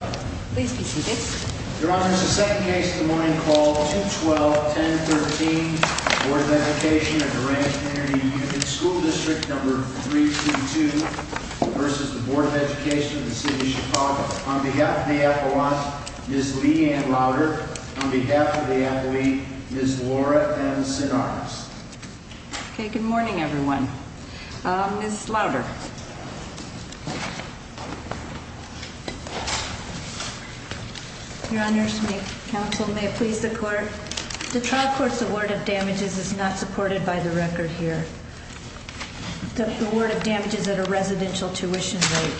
Please be seated. Your Honor, this is the second case of the morning called 2-12-10-13, Board of Education of Durand Community School District No. 322 v. Board of Education of City of Chicago. On behalf of the appellant, Ms. Leigh Ann Lauder. On behalf of the appellee, Ms. Laura M. Sinaras. Okay, good morning everyone. Ms. Lauder. Your Honors, may counsel may please the court. The trial court's award of damages is not supported by the record here. The award of damages at a residential tuition rate.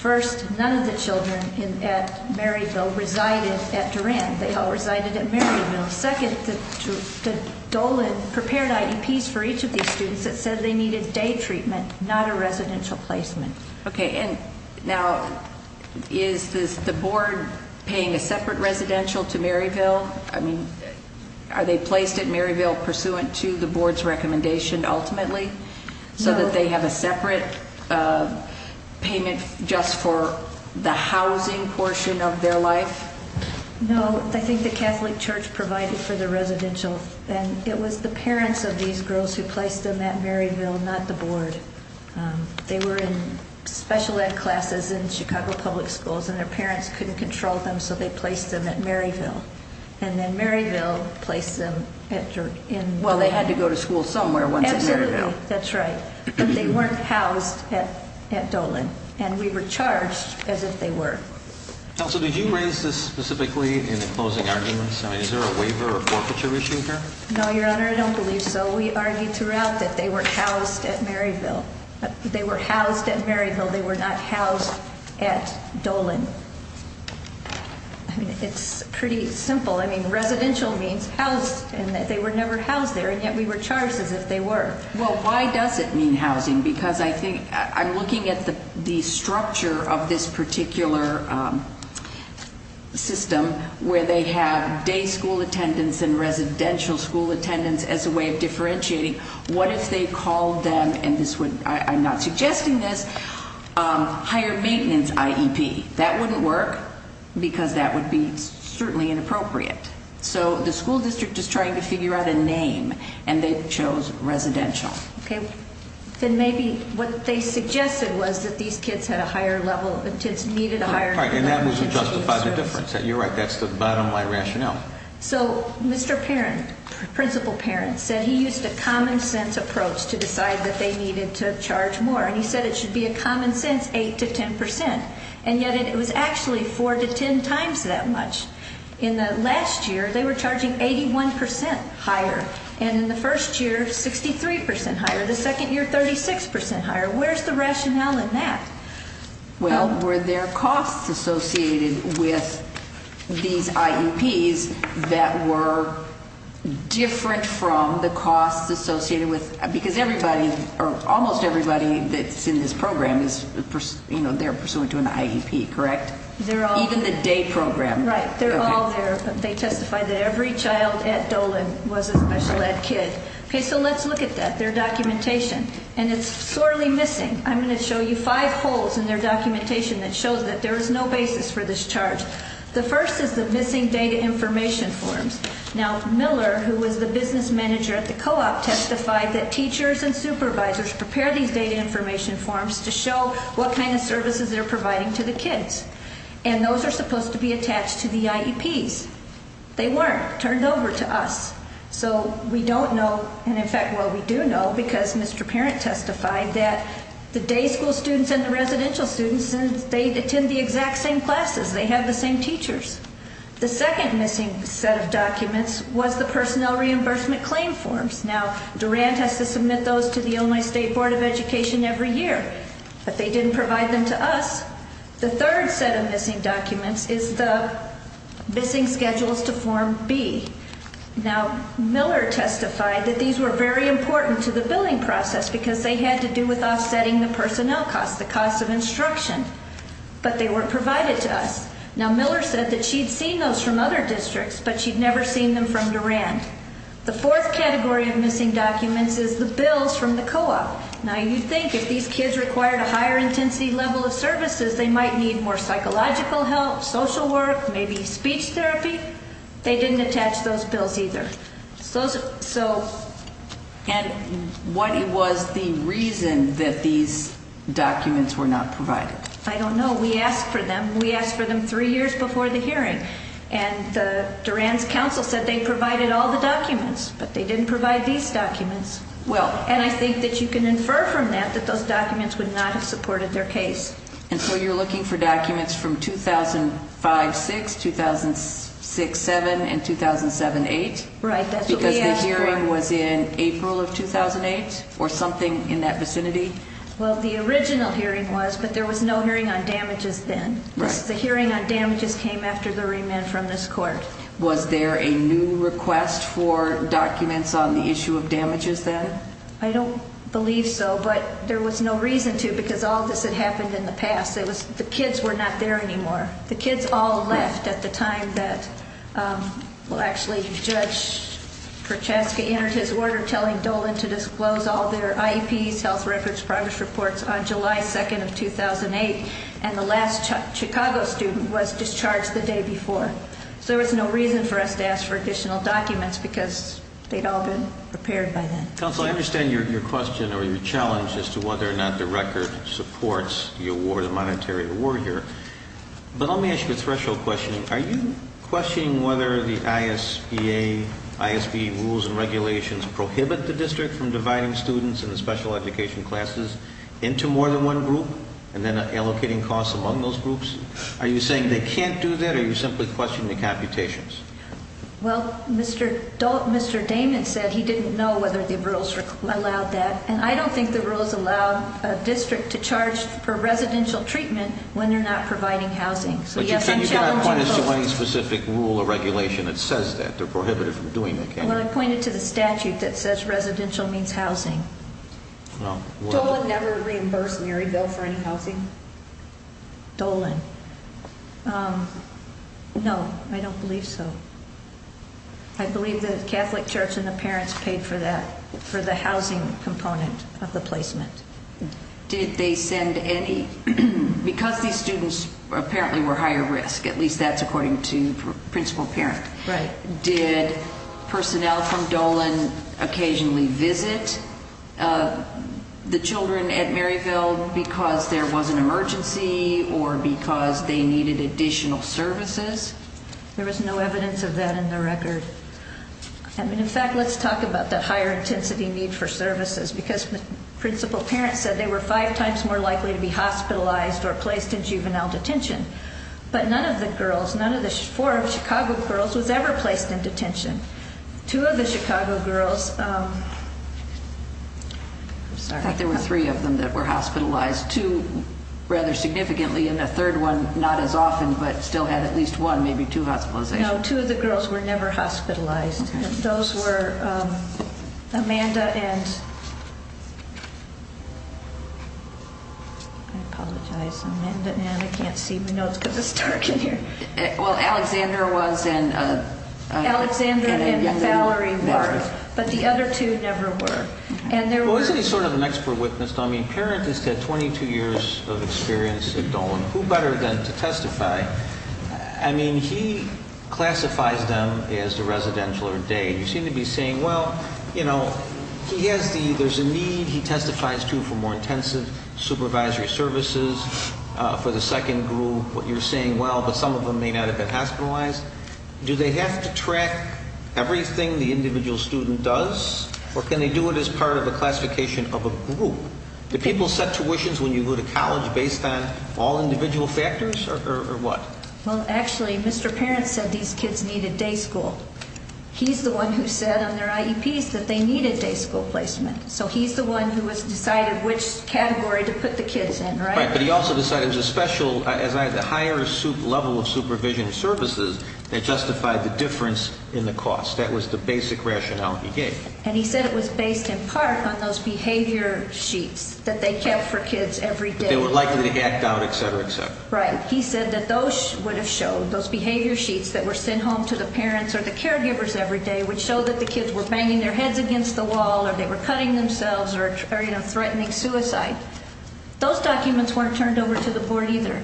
First, none of the children at Maryville resided at Durand. They all resided at Maryville. Second, the Dolan prepared IEPs for each of these students that said they needed day treatment, not a residential placement. Okay, and now is the board paying a separate residential to Maryville? I mean, are they placed at Maryville pursuant to the board's recommendation ultimately? No. So that they have a separate payment just for the housing portion of their life? No, I think the Catholic Church provided for the residential. And it was the parents of these girls who placed them at Maryville, not the board. They were in special ed classes in Chicago public schools and their parents couldn't control them, so they placed them at Maryville. And then Maryville placed them at Durand. Well, they had to go to school somewhere once at Maryville. Absolutely, that's right. But they weren't housed at Dolan. And we were charged as if they were. Counsel, did you raise this specifically in the closing arguments? I mean, is there a waiver or forfeiture issue here? No, Your Honor, I don't believe so. We argued throughout that they were housed at Maryville. They were housed at Maryville. They were not housed at Dolan. I mean, it's pretty simple. I mean, residential means housed and that they were never housed there, and yet we were charged as if they were. Well, why does it mean housing? I'm looking at the structure of this particular system where they have day school attendance and residential school attendance as a way of differentiating. What if they called them, and I'm not suggesting this, higher maintenance IEP? That wouldn't work because that would be certainly inappropriate. So the school district is trying to figure out a name, and they chose residential. Okay. Then maybe what they suggested was that these kids had a higher level of attendance, needed a higher level of attendance. And that was to justify the difference. You're right. That's the bottom line rationale. So Mr. Parent, principal Parent, said he used a common sense approach to decide that they needed to charge more. And he said it should be a common sense 8 to 10 percent. And yet it was actually 4 to 10 times that much. In the last year, they were charging 81 percent higher. And in the first year, 63 percent higher. The second year, 36 percent higher. Where's the rationale in that? Well, were there costs associated with these IEPs that were different from the costs associated with, because everybody, or almost everybody that's in this program is, you know, they're pursuant to an IEP, correct? Even the day program. Right. They're all there. They testified that every child at Dolan was a special ed kid. Okay. So let's look at that. Their documentation. And it's sorely missing. I'm going to show you five holes in their documentation that shows that there is no basis for this charge. The first is the missing data information forms. Now, Miller, who was the business manager at the co-op, testified that teachers and supervisors prepare these data information forms to show what kind of services they're providing to the kids. And those are supposed to be attached to the IEPs. They weren't. Turned over to us. So we don't know, and in fact, well, we do know because Mr. Parent testified that the day school students and the residential students, they attend the exact same classes. They have the same teachers. The second missing set of documents was the personnel reimbursement claim forms. Now, Durant has to submit those to the Illinois State Board of Education every year. But they didn't provide them to us. The third set of missing documents is the missing schedules to Form B. Now, Miller testified that these were very important to the billing process because they had to do with offsetting the personnel cost, the cost of instruction. But they weren't provided to us. Now, Miller said that she'd seen those from other districts, but she'd never seen them from Durant. The fourth category of missing documents is the bills from the co-op. Now, you'd think if these kids required a higher intensity level of services, they might need more psychological help, social work, maybe speech therapy. They didn't attach those bills either. And what was the reason that these documents were not provided? I don't know. We asked for them. We asked for them three years before the hearing. And Durant's counsel said they provided all the documents, but they didn't provide these documents. And I think that you can infer from that that those documents would not have supported their case. And so you're looking for documents from 2005-6, 2006-7, and 2007-8? Right, that's what we asked for. Because the hearing was in April of 2008 or something in that vicinity? Well, the original hearing was, but there was no hearing on damages then. The hearing on damages came after the remand from this court. Was there a new request for documents on the issue of damages then? I don't believe so, but there was no reason to because all of this had happened in the past. The kids were not there anymore. The kids all left at the time that, well, actually, Judge Prochaska entered his order telling Dolan to disclose all their IEPs, health records, progress reports on July 2nd of 2008, and the last Chicago student was discharged the day before. So there was no reason for us to ask for additional documents because they'd all been prepared by then. Counsel, I understand your question or your challenge as to whether or not the record supports the award, the monetary award here, but let me ask you a threshold question. Are you questioning whether the ISBA, ISB rules and regulations, prohibit the district from dividing students in the special education classes into more than one group and then allocating costs among those groups? Are you saying they can't do that or are you simply questioning the computations? Well, Mr. Damon said he didn't know whether the rules allowed that, and I don't think the rules allow a district to charge for residential treatment when they're not providing housing. But you can't point us to any specific rule or regulation that says that. They're prohibited from doing that, can you? Well, I pointed to the statute that says residential means housing. Dolan never reimbursed Maryville for any housing? Dolan? No, I don't believe so. I believe the Catholic Church and the parents paid for that, for the housing component of the placement. Did they send any? Because these students apparently were higher risk, at least that's according to principal parent, did personnel from Dolan occasionally visit the children at Maryville because there was an emergency or because they needed additional services? There was no evidence of that in the record. In fact, let's talk about that higher intensity need for services, because principal parents said they were five times more likely to be hospitalized or placed in juvenile detention. But none of the girls, none of the four Chicago girls was ever placed in detention. Two of the Chicago girls... I thought there were three of them that were hospitalized, two rather significantly, and a third one not as often but still had at least one, maybe two hospitalizations. No, two of the girls were never hospitalized. Those were Amanda and... I apologize, Amanda, and I can't see my notes because it's dark in here. Well, Alexander was and... Alexander and Valerie were, but the other two never were. Well, isn't he sort of an expert witness? I mean, a parent has had 22 years of experience at Dolan. Who better then to testify? I mean, he classifies them as the residential or day. You seem to be saying, well, you know, there's a need. He testifies, too, for more intensive supervisory services for the second group. What you're saying, well, but some of them may not have been hospitalized. Do they have to track everything the individual student does, or can they do it as part of a classification of a group? Do people set tuitions when you go to college based on all individual factors, or what? Well, actually, Mr. Parent said these kids needed day school. He's the one who said on their IEPs that they needed day school placement. So he's the one who has decided which category to put the kids in, right? Right, but he also decided it was a special, a higher level of supervision services that justified the difference in the cost. That was the basic rationale he gave. And he said it was based in part on those behavior sheets that they kept for kids every day. They were likely to be hacked out, et cetera, et cetera. Right. He said that those would have showed, those behavior sheets that were sent home to the parents or the caregivers every day, would show that the kids were banging their heads against the wall or they were cutting themselves or, you know, threatening suicide. Those documents weren't turned over to the board either.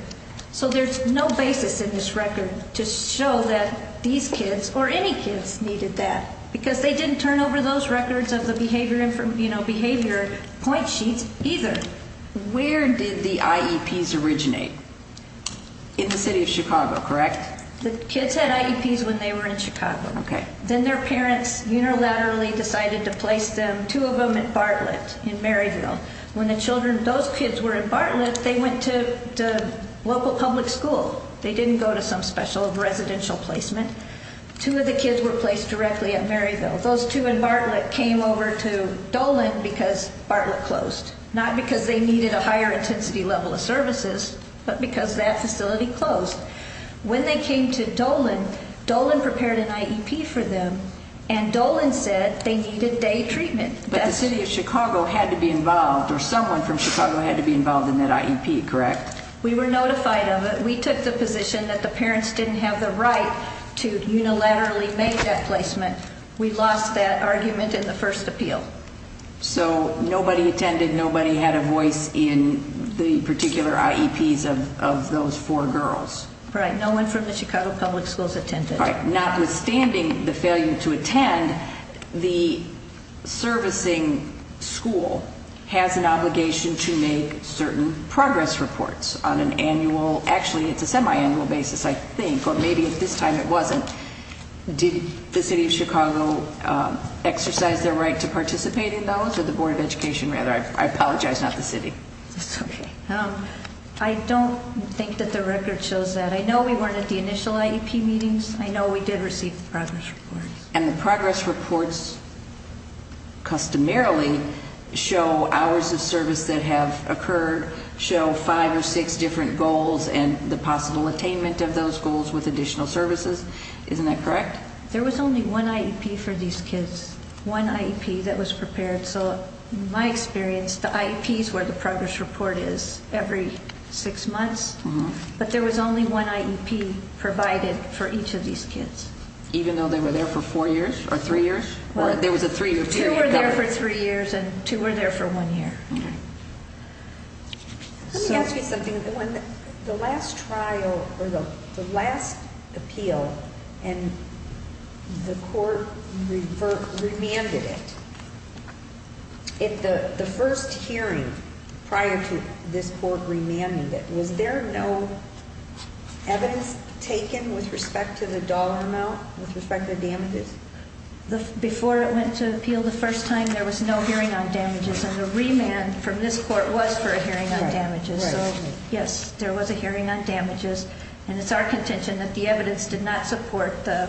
So there's no basis in this record to show that these kids or any kids needed that because they didn't turn over those records of the behavior, you know, behavior point sheets either. Where did the IEPs originate? In the city of Chicago, correct? The kids had IEPs when they were in Chicago. Okay. Then their parents unilaterally decided to place them, two of them, in Bartlett in Maryville. When the children, those kids were in Bartlett, they went to the local public school. They didn't go to some special residential placement. Two of the kids were placed directly at Maryville. Those two in Bartlett came over to Dolan because Bartlett closed, not because they needed a higher intensity level of services but because that facility closed. When they came to Dolan, Dolan prepared an IEP for them, and Dolan said they needed day treatment. But the city of Chicago had to be involved, or someone from Chicago had to be involved in that IEP, correct? We were notified of it. We took the position that the parents didn't have the right to unilaterally make that placement. We lost that argument in the first appeal. So nobody attended. Nobody had a voice in the particular IEPs of those four girls. Right. No one from the Chicago public schools attended. Notwithstanding the failure to attend, the servicing school has an obligation to make certain progress reports on an annual, actually it's a semi-annual basis I think, but maybe at this time it wasn't. Did the city of Chicago exercise their right to participate in those, or the Board of Education rather? I apologize, not the city. It's okay. I don't think that the record shows that. I know we weren't at the initial IEP meetings. I know we did receive the progress reports. And the progress reports customarily show hours of service that have occurred, show five or six different goals and the possible attainment of those goals with additional services. Isn't that correct? There was only one IEP for these kids, one IEP that was prepared. So in my experience, the IEP is where the progress report is every six months, but there was only one IEP provided for each of these kids. Even though they were there for four years or three years? Two were there for three years and two were there for one year. Let me ask you something. When the last trial or the last appeal and the court remanded it, the first hearing prior to this court remanding it, was there no evidence taken with respect to the dollar amount, with respect to damages? Before it went to appeal the first time, there was no hearing on damages. And the remand from this court was for a hearing on damages. So, yes, there was a hearing on damages. And it's our contention that the evidence did not support the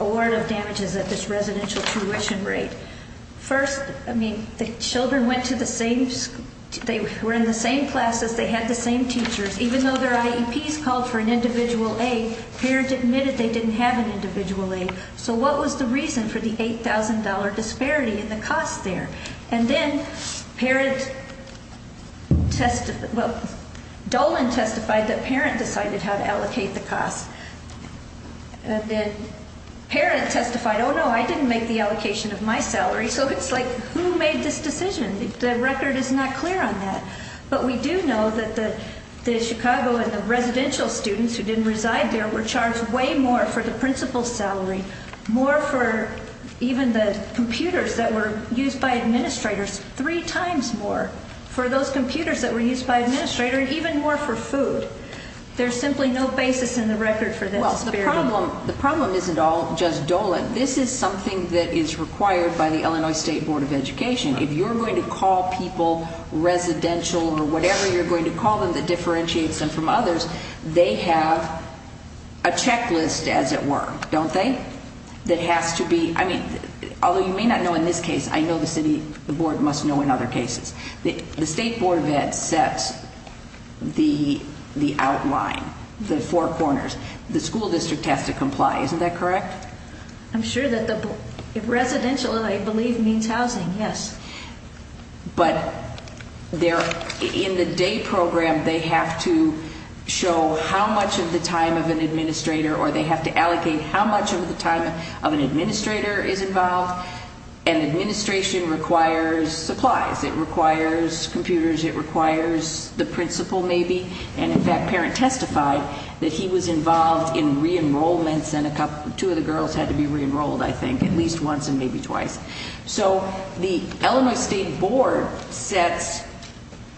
award of damages at this residential tuition rate. First, I mean, the children went to the same school. They were in the same classes. They had the same teachers. Even though their IEPs called for an individual aid, the parent admitted they didn't have an individual aid. So what was the reason for the $8,000 disparity in the cost there? And then parent testified, well, Dolan testified that parent decided how to allocate the cost. Then parent testified, oh, no, I didn't make the allocation of my salary. So it's like, who made this decision? The record is not clear on that. But we do know that the Chicago and the residential students who didn't reside there were charged way more for the principal's salary, more for even the computers that were used by administrators, three times more for those computers that were used by administrators, and even more for food. There's simply no basis in the record for this disparity. Well, the problem isn't all just Dolan. This is something that is required by the Illinois State Board of Education. If you're going to call people residential or whatever you're going to call them that differentiates them from others, they have a checklist, as it were, don't they, that has to be, I mean, although you may not know in this case, I know the city board must know in other cases. The State Board of Ed sets the outline, the four corners. The school district has to comply. Isn't that correct? I'm sure that the residential, I believe, means housing, yes. But in the day program they have to show how much of the time of an administrator or they have to allocate how much of the time of an administrator is involved. And administration requires supplies. It requires computers. It requires the principal maybe. And in fact, Parent testified that he was involved in re-enrollments and two of the girls had to be re-enrolled, I think, at least once and maybe twice. So the Illinois State Board sets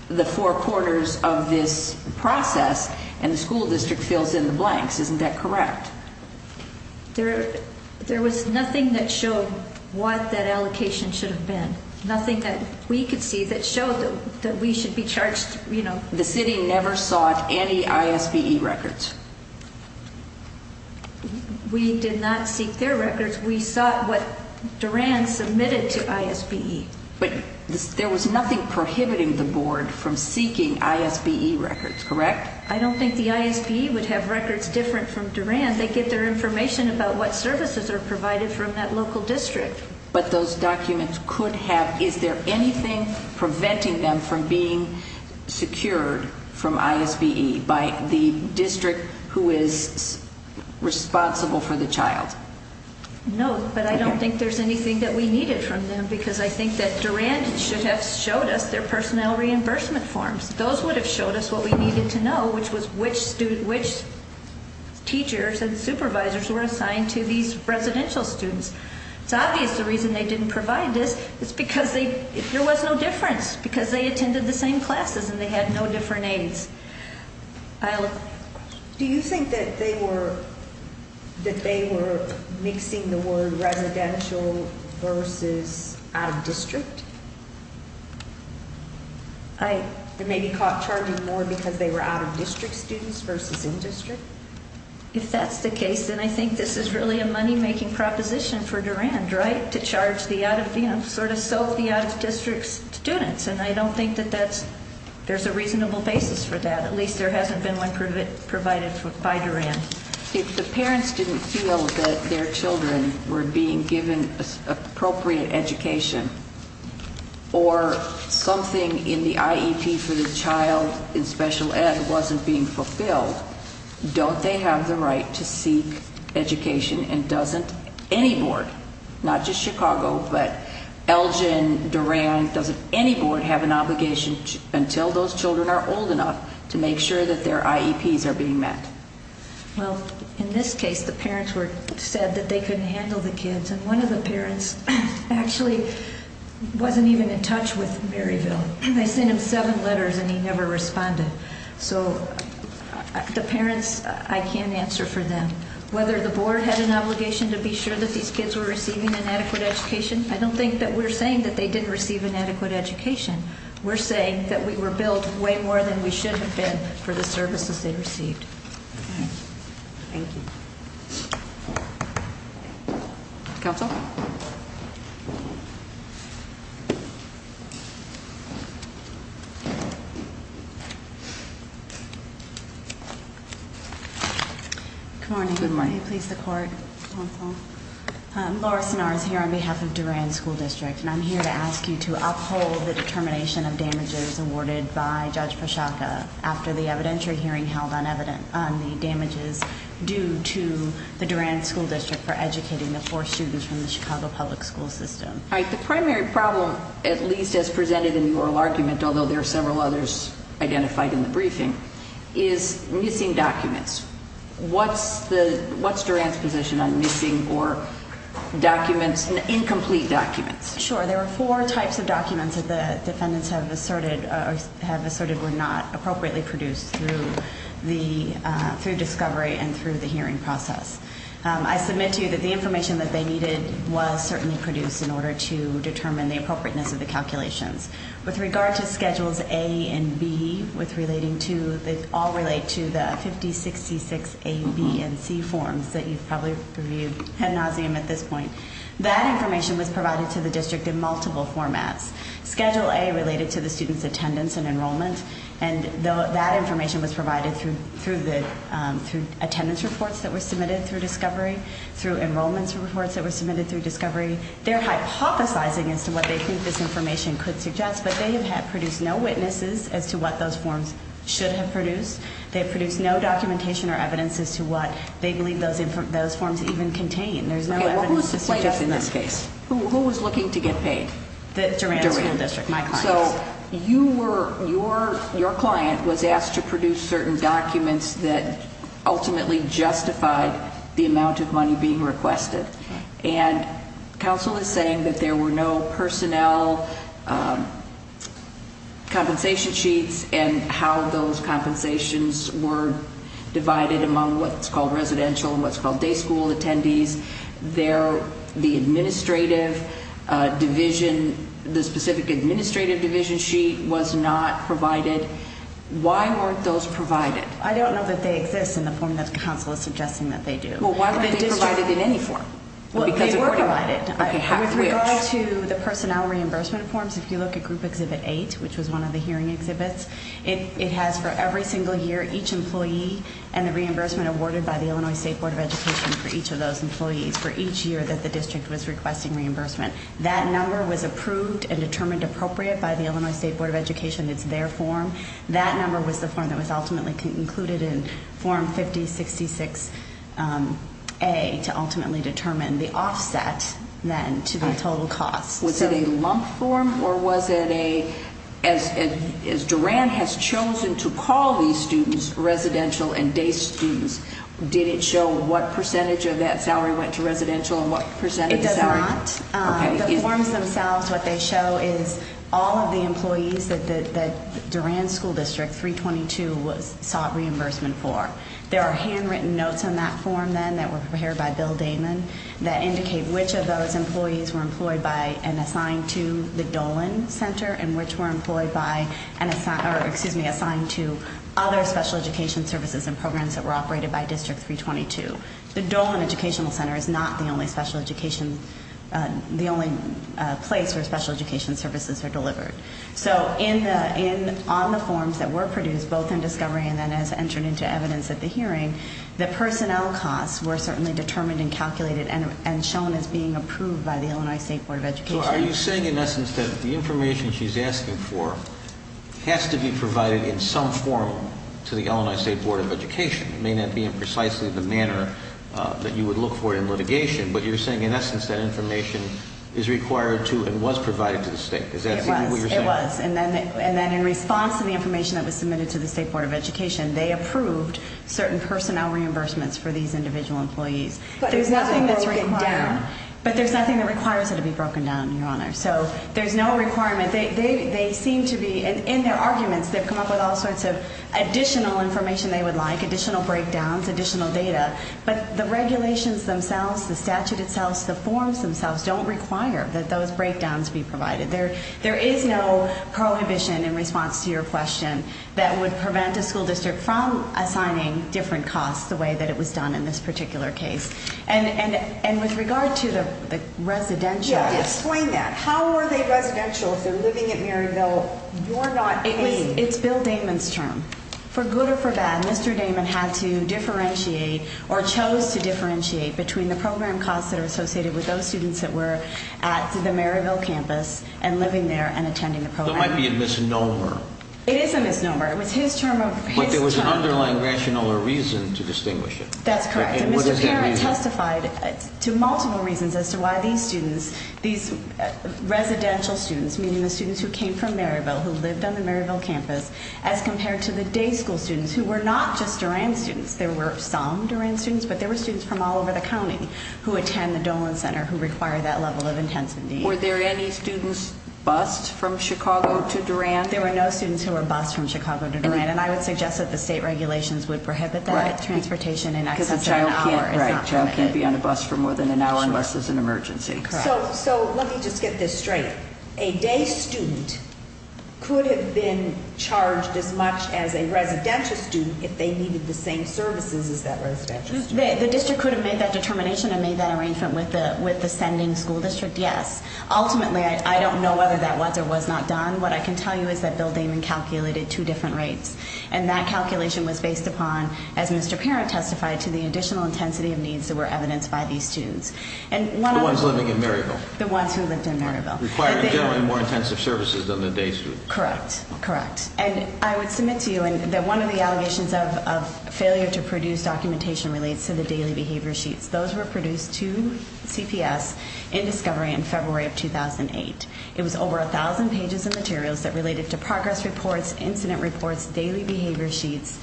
the four corners of this process and the school district fills in the blanks. Isn't that correct? There was nothing that showed what that allocation should have been. Nothing that we could see that showed that we should be charged, you know. The city never sought any ISBE records. We did not seek their records. We sought what Duran submitted to ISBE. But there was nothing prohibiting the board from seeking ISBE records, correct? I don't think the ISBE would have records different from Duran. They get their information about what services are provided from that local district. But those documents could have. Is there anything preventing them from being secured from ISBE by the district who is responsible for the child? No, but I don't think there's anything that we needed from them because I think that Duran should have showed us their personnel reimbursement forms. Those would have showed us what we needed to know, which was which teachers and supervisors were assigned to these residential students. It's obvious the reason they didn't provide this is because there was no difference because they attended the same classes and they had no different aides. Do you think that they were mixing the word residential versus out-of-district? They may be caught charging more because they were out-of-district students versus in-district? If that's the case, then I think this is really a money-making proposition for Duran, right? To sort of soak the out-of-district students. And I don't think that there's a reasonable basis for that. At least there hasn't been one provided by Duran. If the parents didn't feel that their children were being given appropriate education or something in the IEP for the child in special ed wasn't being fulfilled, don't they have the right to seek education and doesn't any board, not just Chicago, but Elgin, Duran, doesn't any board have an obligation until those children are old enough to make sure that their IEPs are being met? Well, in this case the parents said that they couldn't handle the kids and one of the parents actually wasn't even in touch with Maryville. They sent him seven letters and he never responded. So the parents, I can't answer for them. Whether the board had an obligation to be sure that these kids were receiving an adequate education, I don't think that we're saying that they didn't receive an adequate education. We're saying that we were billed way more than we should have been for the services they received. Thank you. Counsel? Good morning. Good morning. Please, the court, counsel. Laura Sennar is here on behalf of Duran School District and I'm here to ask you to uphold the determination of damages awarded by Judge Pachaca after the evidentiary hearing held on the damages due to the Duran School District for educating the four students from Duran. All right. The primary problem, at least as presented in the oral argument, although there are several others identified in the briefing, is missing documents. What's Duran's position on missing or incomplete documents? Sure. There were four types of documents that the defendants have asserted were not appropriately produced through discovery and through the hearing process. I submit to you that the information that they needed was certainly produced in order to determine the appropriateness of the calculations. With regard to Schedules A and B, which all relate to the 5066 A, B, and C forms that you've probably reviewed ad nauseum at this point, that information was provided to the district in multiple formats. Schedule A related to the students' attendance and enrollment, and that information was provided through attendance reports that were submitted through discovery, through enrollment reports that were submitted through discovery. They're hypothesizing as to what they think this information could suggest, but they have produced no witnesses as to what those forms should have produced. They have produced no documentation or evidence as to what they believe those forms even contain. There's no evidence to suggest that. Okay. What was the plaintiff in this case? Who was looking to get paid? The Duran School District. My client. So your client was asked to produce certain documents that ultimately justified the amount of money being requested. And counsel is saying that there were no personnel compensation sheets and how those compensations were divided among what's called residential and what's called day school attendees. The administrative division, the specific administrative division sheet was not provided. Why weren't those provided? I don't know that they exist in the form that counsel is suggesting that they do. Well, why weren't they provided in any form? Well, they were provided. With regard to the personnel reimbursement forms, if you look at Group Exhibit 8, which was one of the hearing exhibits, it has for every single year each employee and the reimbursement awarded by the Illinois State Board of Education for each of those employees for each year that the district was requesting reimbursement. That number was approved and determined appropriate by the Illinois State Board of Education. It's their form. That number was the form that was ultimately concluded in Form 5066A to ultimately determine the offset then to the total cost. Was it a lump form or was it a, as Duran has chosen to call these students, residential and day students, did it show what percentage of that salary went to residential and what percentage salary? It does not. Okay. The forms themselves, what they show is all of the employees that Duran School District 322 sought reimbursement for. There are handwritten notes in that form then that were prepared by Bill Damon that indicate which of those employees were employed by and assigned to the Dolan Center and which were employed by and assigned to other special education services and programs that were operated by District 322. The Dolan Educational Center is not the only special education, the only place where special education services are delivered. So on the forms that were produced both in discovery and then as entered into evidence at the hearing, the personnel costs were certainly determined and calculated and shown as being approved by the Illinois State Board of Education. So are you saying in essence that the information she's asking for has to be provided in some form to the Illinois State Board of Education? It may not be in precisely the manner that you would look for in litigation, but you're saying in essence that information is required to and was provided to the state. Is that what you're saying? It was. And then in response to the information that was submitted to the State Board of Education, they approved certain personnel reimbursements for these individual employees. But there's nothing that's written down. But there's nothing that requires it to be broken down, Your Honor. So there's no requirement. They seem to be, in their arguments, they've come up with all sorts of additional information they would like, additional breakdowns, additional data. But the regulations themselves, the statute itself, the forms themselves don't require that those breakdowns be provided. There is no prohibition in response to your question that would prevent a school district from assigning different costs the way that it was done in this particular case. And with regard to the residential. Explain that. How are they residential if they're living at Maryville? You're not claiming. It's Bill Damon's term. For good or for bad, Mr. Damon had to differentiate or chose to differentiate between the program costs that are associated with those students that were at the Maryville campus and living there and attending the program. That might be a misnomer. It is a misnomer. It was his term of his term. But there was an underlying rational or reason to distinguish it. That's correct. What does that mean? Mr. Parent testified to multiple reasons as to why these students, these residential students, meaning the students who came from Maryville, who lived on the Maryville campus, as compared to the day school students who were not just Duran students. There were some Duran students, but there were students from all over the county who attend the Dolan Center who require that level of intensity. Were there any students bussed from Chicago to Duran? There were no students who were bussed from Chicago to Duran. And I would suggest that the state regulations would prohibit that transportation in excess of an hour. Because a child can't be on a bus for more than an hour unless there's an emergency. So let me just get this straight. A day student could have been charged as much as a residential student if they needed the same services as that residential student. The district could have made that determination and made that arrangement with the sending school district, yes. Ultimately, I don't know whether that was or was not done. What I can tell you is that Bill Damon calculated two different rates, and that calculation was based upon, as Mr. Parent testified, to the additional intensity of needs that were evidenced by these students. The ones living in Maryville? The ones who lived in Maryville. Required generally more intensive services than the day students. Correct, correct. And I would submit to you that one of the allegations of failure to produce documentation relates to the daily behavior sheets. Those were produced to CPS in discovery in February of 2008. It was over 1,000 pages of materials that related to progress reports, incident reports, daily behavior sheets,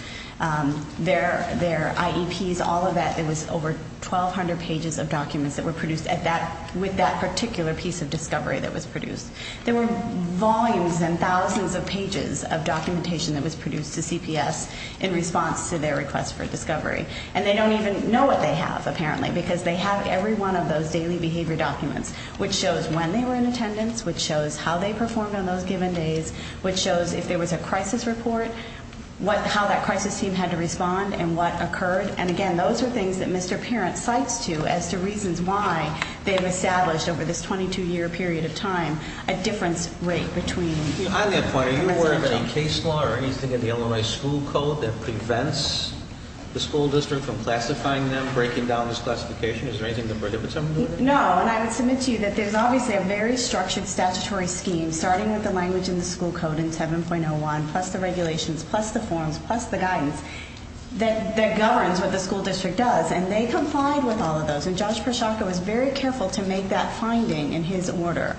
their IEPs, all of that. It was over 1,200 pages of documents that were produced with that particular piece of discovery that was produced. There were volumes and thousands of pages of documentation that was produced to CPS in response to their request for discovery. And they don't even know what they have, apparently, because they have every one of those daily behavior documents, which shows when they were in attendance, which shows how they performed on those given days, which shows if there was a crisis report, how that crisis team had to respond and what occurred. And, again, those are things that Mr. Parent cites to as to reasons why they have established over this 22-year period of time a difference rate between. I have a question. Are you aware of any case law or anything in the Illinois school code that prevents the school district from classifying them, breaking down this classification? Is there anything that prohibits them from doing that? No, and I would submit to you that there's obviously a very structured statutory scheme, starting with the language in the school code in 7.01, plus the regulations, plus the forms, plus the guidance, that governs what the school district does. And they complied with all of those. And Judge Pershaka was very careful to make that finding in his order.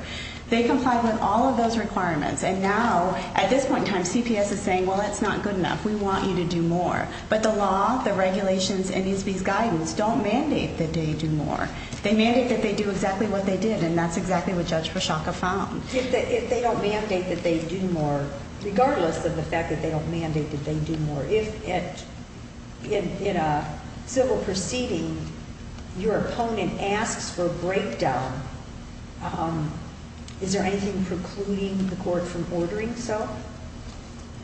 They complied with all of those requirements. And now, at this point in time, CPS is saying, well, that's not good enough. We want you to do more. But the law, the regulations, and ESB's guidance don't mandate that they do more. They mandate that they do exactly what they did, and that's exactly what Judge Pershaka found. If they don't mandate that they do more, regardless of the fact that they don't mandate that they do more, if in a civil proceeding your opponent asks for a breakdown, is there anything precluding the court from ordering so?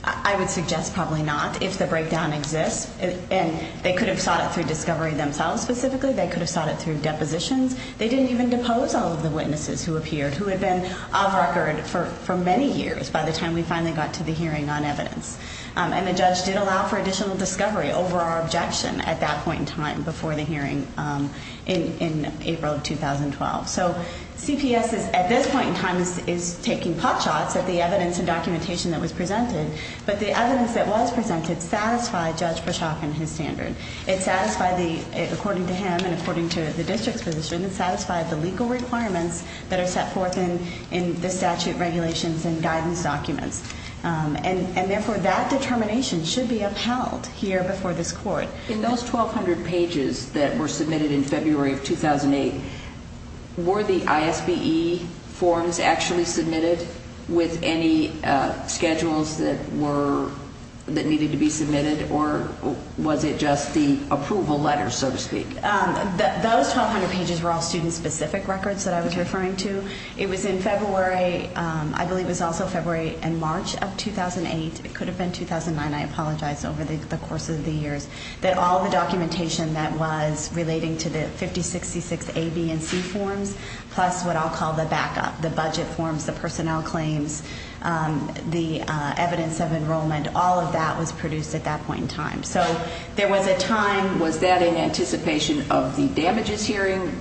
I would suggest probably not, if the breakdown exists. And they could have sought it through discovery themselves, specifically. They could have sought it through depositions. They didn't even depose all of the witnesses who appeared, who had been off record for many years by the time we finally got to the hearing on evidence. And the judge did allow for additional discovery over our objection at that point in time, before the hearing in April of 2012. So CPS, at this point in time, is taking pot shots at the evidence and documentation that was presented. But the evidence that was presented satisfied Judge Pershaka and his standard. It satisfied, according to him and according to the district's position, it satisfied the legal requirements that are set forth in the statute regulations and guidance documents. And, therefore, that determination should be upheld here before this court. In those 1,200 pages that were submitted in February of 2008, were the ISBE forms actually submitted with any schedules that needed to be submitted, or was it just the approval letters, so to speak? Those 1,200 pages were all student-specific records that I was referring to. It was in February. I believe it was also February and March of 2008. It could have been 2009. I apologize over the course of the years. That all the documentation that was relating to the 5066A, B, and C forms, plus what I'll call the backup, the budget forms, the personnel claims, the evidence of enrollment, all of that was produced at that point in time. So there was a time. Was that in anticipation of the damages hearing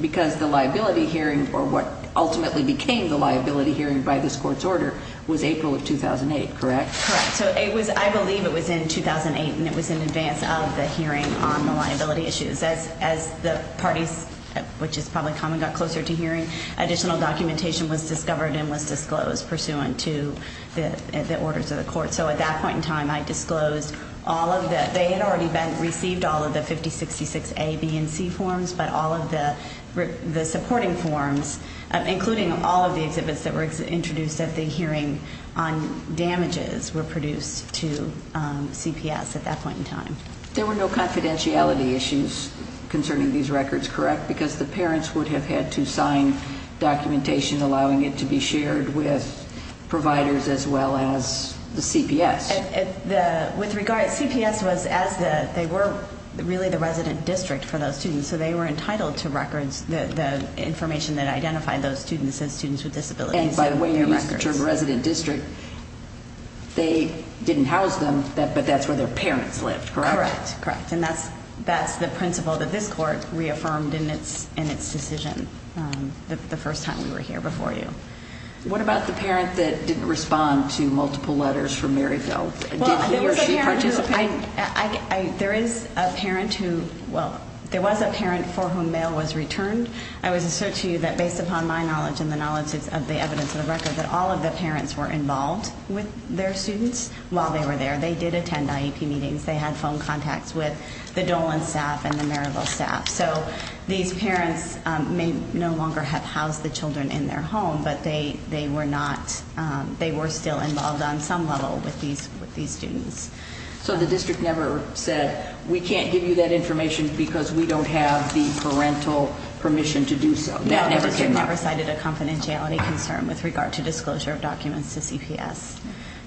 because the liability hearing, or what ultimately became the liability hearing by this court's order, was April of 2008, correct? Correct. So I believe it was in 2008, and it was in advance of the hearing on the liability issues. As the parties, which is probably common, got closer to hearing, additional documentation was discovered and was disclosed pursuant to the orders of the court. So at that point in time, I disclosed all of that. They had already received all of the 5066A, B, and C forms, but all of the supporting forms, including all of the exhibits that were introduced at the hearing on damages, were produced to CPS at that point in time. There were no confidentiality issues concerning these records, correct, because the parents would have had to sign documentation allowing it to be shared with providers as well as the CPS. With regard, CPS was as the, they were really the resident district for those students, so they were entitled to records, the information that identified those students as students with disabilities. And by the way, you used the term resident district. They didn't house them, but that's where their parents lived, correct? Correct. And that's the principle that this court reaffirmed in its decision the first time we were here before you. What about the parent that didn't respond to multiple letters from Maryville? Did he or she participate? There is a parent who, well, there was a parent for whom mail was returned. I would assert to you that based upon my knowledge and the knowledge of the evidence of the record that all of the parents were involved with their students while they were there. They did attend IEP meetings. They had phone contacts with the Dolan staff and the Maryville staff. So these parents may no longer have housed the children in their home, but they were not, they were still involved on some level with these students. So the district never said, we can't give you that information because we don't have the parental permission to do so. No, they never cited a confidentiality concern with regard to disclosure of documents to CPS.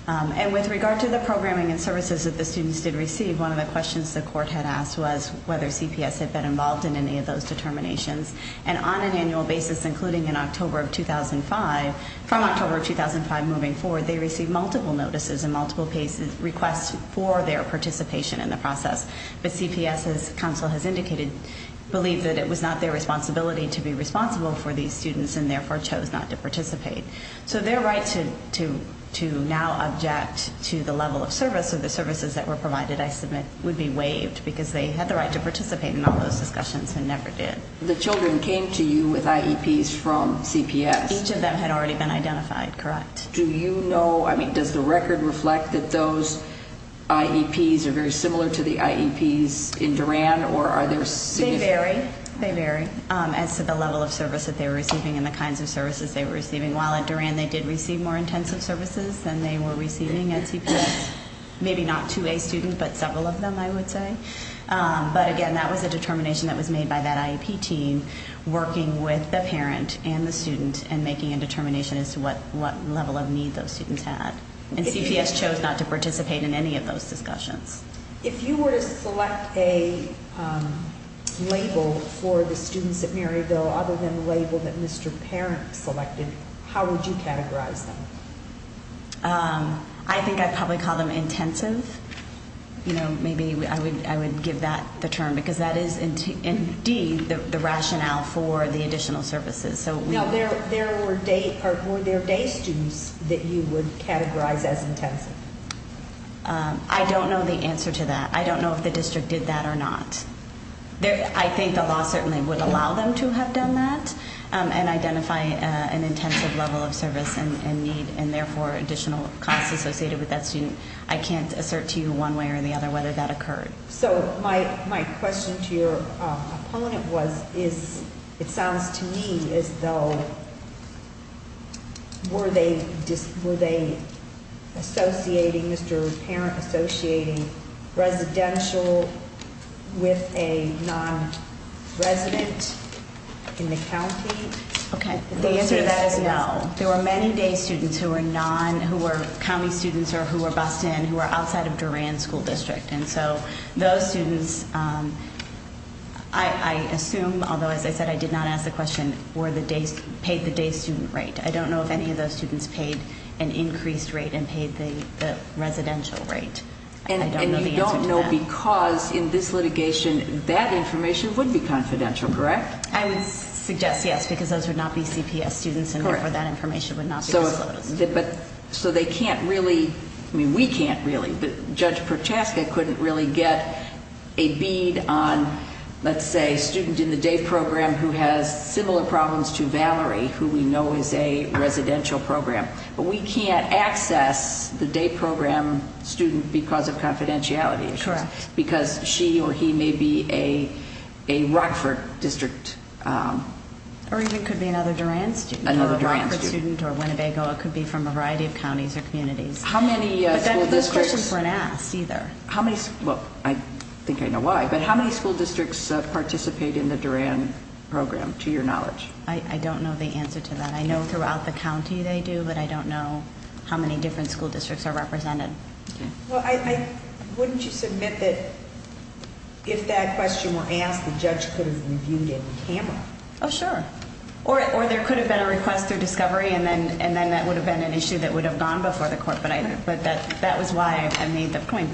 And with regard to the programming and services that the students did receive, one of the questions the court had asked was whether CPS had been involved in any of those determinations. And on an annual basis, including in October of 2005, from October of 2005 moving forward, they received multiple notices and multiple requests for their participation in the process. But CPS, as counsel has indicated, believed that it was not their responsibility to be responsible for these students and therefore chose not to participate. So their right to now object to the level of service or the services that were provided, I submit, would be waived because they had the right to participate in all those discussions and never did. The children came to you with IEPs from CPS? Each of them had already been identified, correct. Do you know, I mean, does the record reflect that those IEPs are very similar to the IEPs in Duran or are there significant differences? They vary, they vary as to the level of service that they were receiving and the kinds of services they were receiving. While at Duran they did receive more intensive services than they were receiving at CPS, maybe not to a student but several of them, I would say. But again, that was a determination that was made by that IEP team, working with the parent and the student and making a determination as to what level of need those students had. And CPS chose not to participate in any of those discussions. If you were to select a label for the students at Maryville other than the label that Mr. Parent selected, how would you categorize them? I think I'd probably call them intensive. You know, maybe I would give that the term because that is indeed the rationale for the additional services. Now, were there day students that you would categorize as intensive? I don't know the answer to that. I don't know if the district did that or not. I think the law certainly would allow them to have done that and identify an intensive level of service and need and therefore additional costs associated with that student. I can't assert to you one way or the other whether that occurred. So my question to your opponent was, it sounds to me as though, were they associating Mr. Parent, associating residential with a non-resident in the county? Okay. The answer to that is no. There were many day students who were county students or who were bused in who were outside of Duran School District. And so those students, I assume, although as I said, I did not ask the question, paid the day student rate. I don't know if any of those students paid an increased rate and paid the residential rate. I don't know the answer to that. And you don't know because in this litigation that information would be confidential, correct? I would suggest yes because those would not be CPS students and therefore that information would not be disclosed. So they can't really, I mean, we can't really. Judge Prochaska couldn't really get a bead on, let's say, a student in the day program who has similar problems to Valerie who we know is a residential program. But we can't access the day program student because of confidentiality issues. Correct. Because she or he may be a Rockford District. Or even could be another Duran student. Another Duran student. Or Winnebago. It could be from a variety of counties or communities. How many school districts- But those questions weren't asked either. Well, I think I know why. But how many school districts participate in the Duran program to your knowledge? I don't know the answer to that. I know throughout the county they do, but I don't know how many different school districts are represented. Okay. Well, wouldn't you submit that if that question were asked, the judge could have reviewed it with camera? Oh, sure. Or there could have been a request through discovery, and then that would have been an issue that would have gone before the court. But that was why I made the point.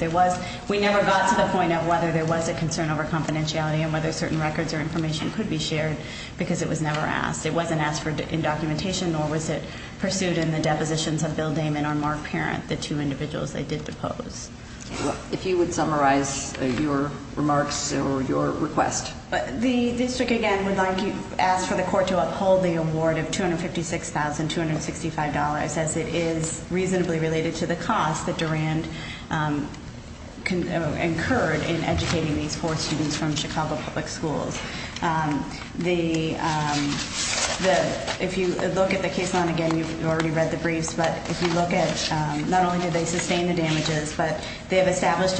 We never got to the point of whether there was a concern over confidentiality and whether certain records or information could be shared because it was never asked. It wasn't asked in documentation, nor was it pursued in the depositions of Bill Damon or Mark Parent, the two individuals they did depose. If you would summarize your remarks or your request. The district, again, would like to ask for the court to uphold the award of $256,265 as it is reasonably related to the cost that Duran incurred in educating these four students from Chicago Public Schools. If you look at the case line again, you've already read the briefs. But if you look at not only do they sustain the damages, but we have established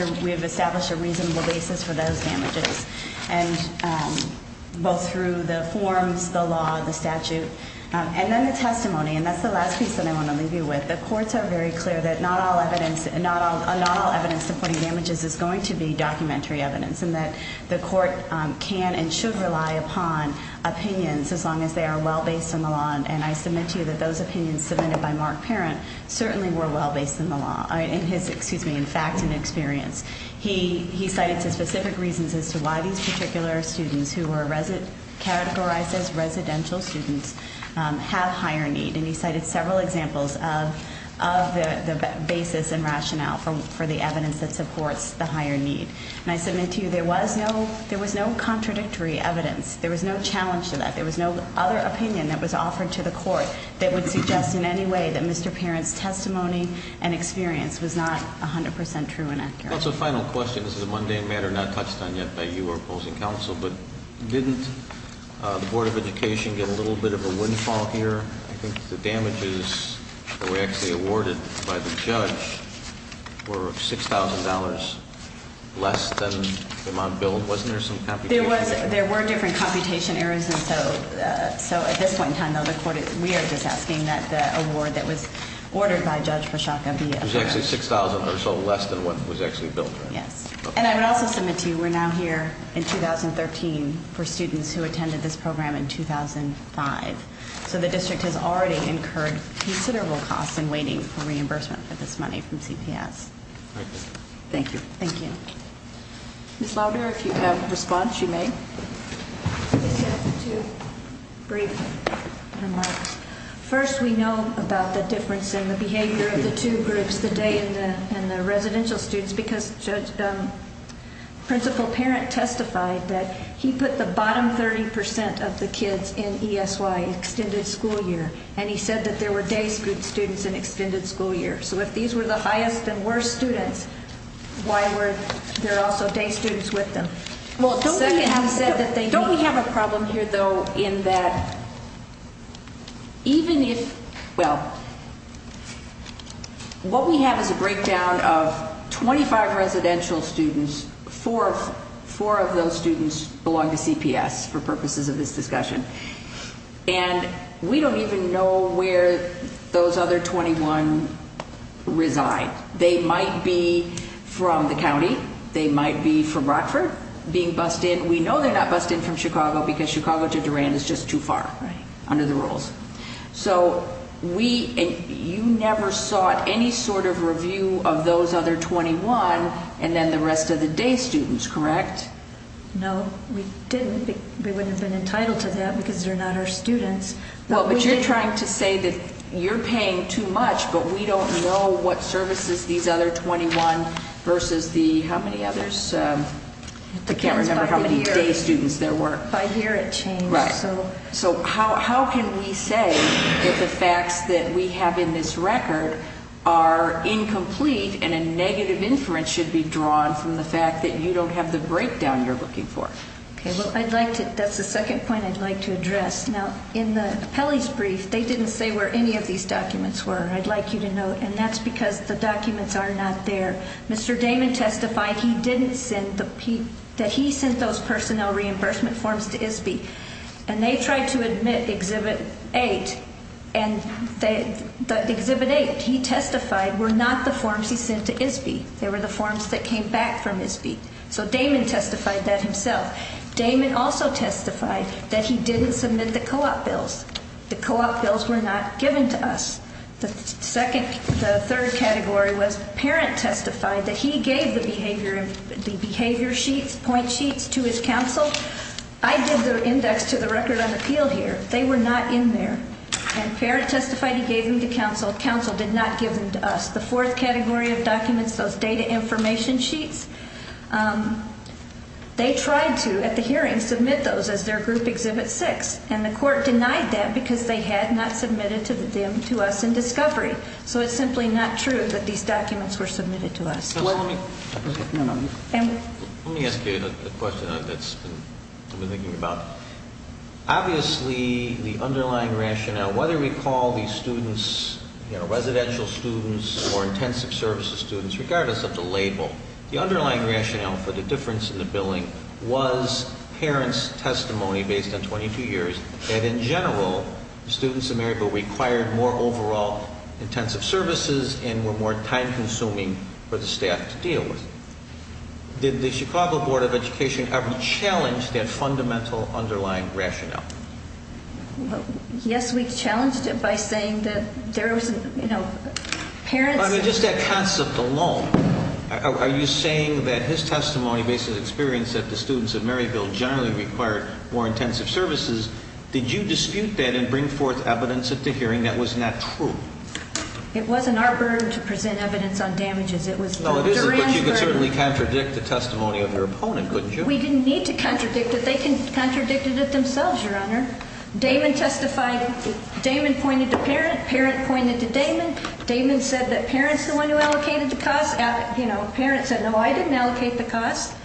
a reasonable basis for those damages. Both through the forms, the law, the statute, and then the testimony. And that's the last piece that I want to leave you with. The courts are very clear that not all evidence supporting damages is going to be documentary evidence and that the court can and should rely upon opinions as long as they are well-based in the law. And I submit to you that those opinions submitted by Mark Parent certainly were well-based in the law, excuse me, in fact and experience. He cited specific reasons as to why these particular students who were categorized as residential students have higher need. And he cited several examples of the basis and rationale for the evidence that supports the higher need. And I submit to you there was no contradictory evidence. There was no challenge to that. There was no other opinion that was offered to the court that would suggest in any way that Mr. Parent's testimony and experience was not 100% true and accurate. That's a final question. This is a mundane matter not touched on yet by you or opposing counsel. But didn't the Board of Education get a little bit of a windfall here? I think the damages that were actually awarded by the judge were $6,000 less than the amount billed. Wasn't there some computation error? There were different computation errors. And so at this point in time, though, the court, we are just asking that the award that was ordered by Judge Breschaka be assessed. It was actually $6,000 or so less than what was actually billed, right? Yes. And I would also submit to you we're now here in 2013 for students who attended this program in 2005. So the district has already incurred considerable costs in waiting for reimbursement for this money from CPS. Thank you. Thank you. Ms. Louder, if you have a response, you may. I just have two brief remarks. First, we know about the difference in the behavior of the two groups, the day and the residential students, because Principal Parent testified that he put the bottom 30 percent of the kids in ESY extended school year, and he said that there were day students in extended school year. So if these were the highest and worst students, why were there also day students with them? Well, don't we have a problem here, though, in that even if, well, what we have is a breakdown of 25 residential students. Four of those students belong to CPS for purposes of this discussion. And we don't even know where those other 21 reside. Right. They might be from the county. They might be from Rockford being bussed in. We know they're not bussed in from Chicago because Chicago to Durand is just too far under the rules. So you never sought any sort of review of those other 21 and then the rest of the day students, correct? No, we didn't. We wouldn't have been entitled to that because they're not our students. Well, but you're trying to say that you're paying too much, but we don't know what services these other 21 versus the how many others? I can't remember how many day students there were. By here it changed. Right. So how can we say that the facts that we have in this record are incomplete and a negative inference should be drawn from the fact that you don't have the breakdown you're looking for? Okay. Well, that's the second point I'd like to address. Now, in the appellee's brief, they didn't say where any of these documents were. I'd like you to note, and that's because the documents are not there. Mr. Damon testified that he sent those personnel reimbursement forms to ISBE, and they tried to admit Exhibit 8. And Exhibit 8, he testified, were not the forms he sent to ISBE. They were the forms that came back from ISBE. So Damon testified that himself. Damon also testified that he didn't submit the co-op bills. The co-op bills were not given to us. The third category was parent testified that he gave the behavior sheets, point sheets, to his counsel. I did the index to the record on appeal here. They were not in there. And parent testified he gave them to counsel. Counsel did not give them to us. The fourth category of documents, those data information sheets, they tried to, at the hearing, submit those as their group Exhibit 6. And the court denied that because they had not submitted them to us in discovery. So it's simply not true that these documents were submitted to us. Let me ask you the question I've been thinking about. Obviously, the underlying rationale, whether we call these students residential students or intensive services students, regardless of the label, the underlying rationale for the difference in the billing was parents' testimony based on 22 years. And in general, the students of Maryville required more overall intensive services and were more time-consuming for the staff to deal with. Did the Chicago Board of Education ever challenge that fundamental underlying rationale? Yes, we challenged it by saying that there was, you know, parents... Are you saying that his testimony based on his experience that the students of Maryville generally required more intensive services, did you dispute that and bring forth evidence at the hearing that was not true? It wasn't our burden to present evidence on damages. No, it isn't, but you could certainly contradict the testimony of your opponent, couldn't you? We didn't need to contradict it. They contradicted it themselves, Your Honor. Damon testified. Damon pointed to parent. Parent pointed to Damon. Damon said that parent's the one who allocated the cost. You know, parent said, no, I didn't allocate the cost.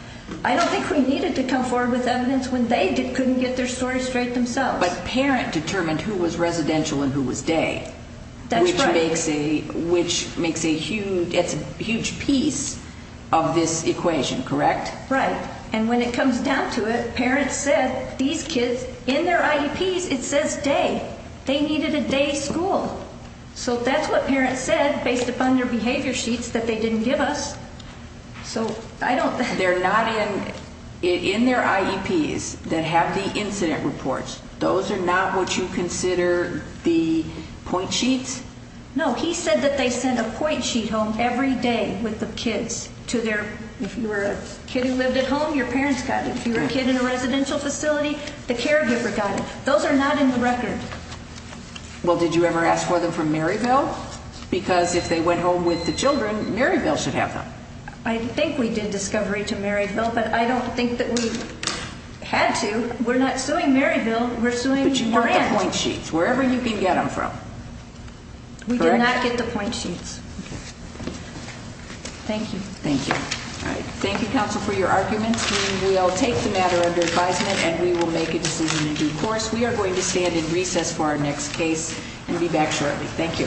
I don't think we needed to come forward with evidence when they couldn't get their story straight themselves. But parent determined who was residential and who was day. That's right. Which makes a huge piece of this equation, correct? Right. And when it comes down to it, parent said these kids, in their IEPs, it says day. They needed a day school. So that's what parent said based upon their behavior sheets that they didn't give us. So I don't think. They're not in their IEPs that have the incident reports. Those are not what you consider the point sheets? No. He said that they sent a point sheet home every day with the kids to their, if you were a kid who lived at home, your parents got it. If you were a kid in a residential facility, the caregiver got it. Those are not in the record. Well, did you ever ask for them from Maryville? Because if they went home with the children, Maryville should have them. I think we did discovery to Maryville, but I don't think that we had to. We're not suing Maryville. We're suing Grant. But you want the point sheets, wherever you can get them from, correct? We did not get the point sheets. Thank you. Thank you. All right. Thank you, counsel, for your arguments. We will take the matter under advisement and we will make a decision in due course. We are going to stand in recess for our next case and be back shortly. Thank you.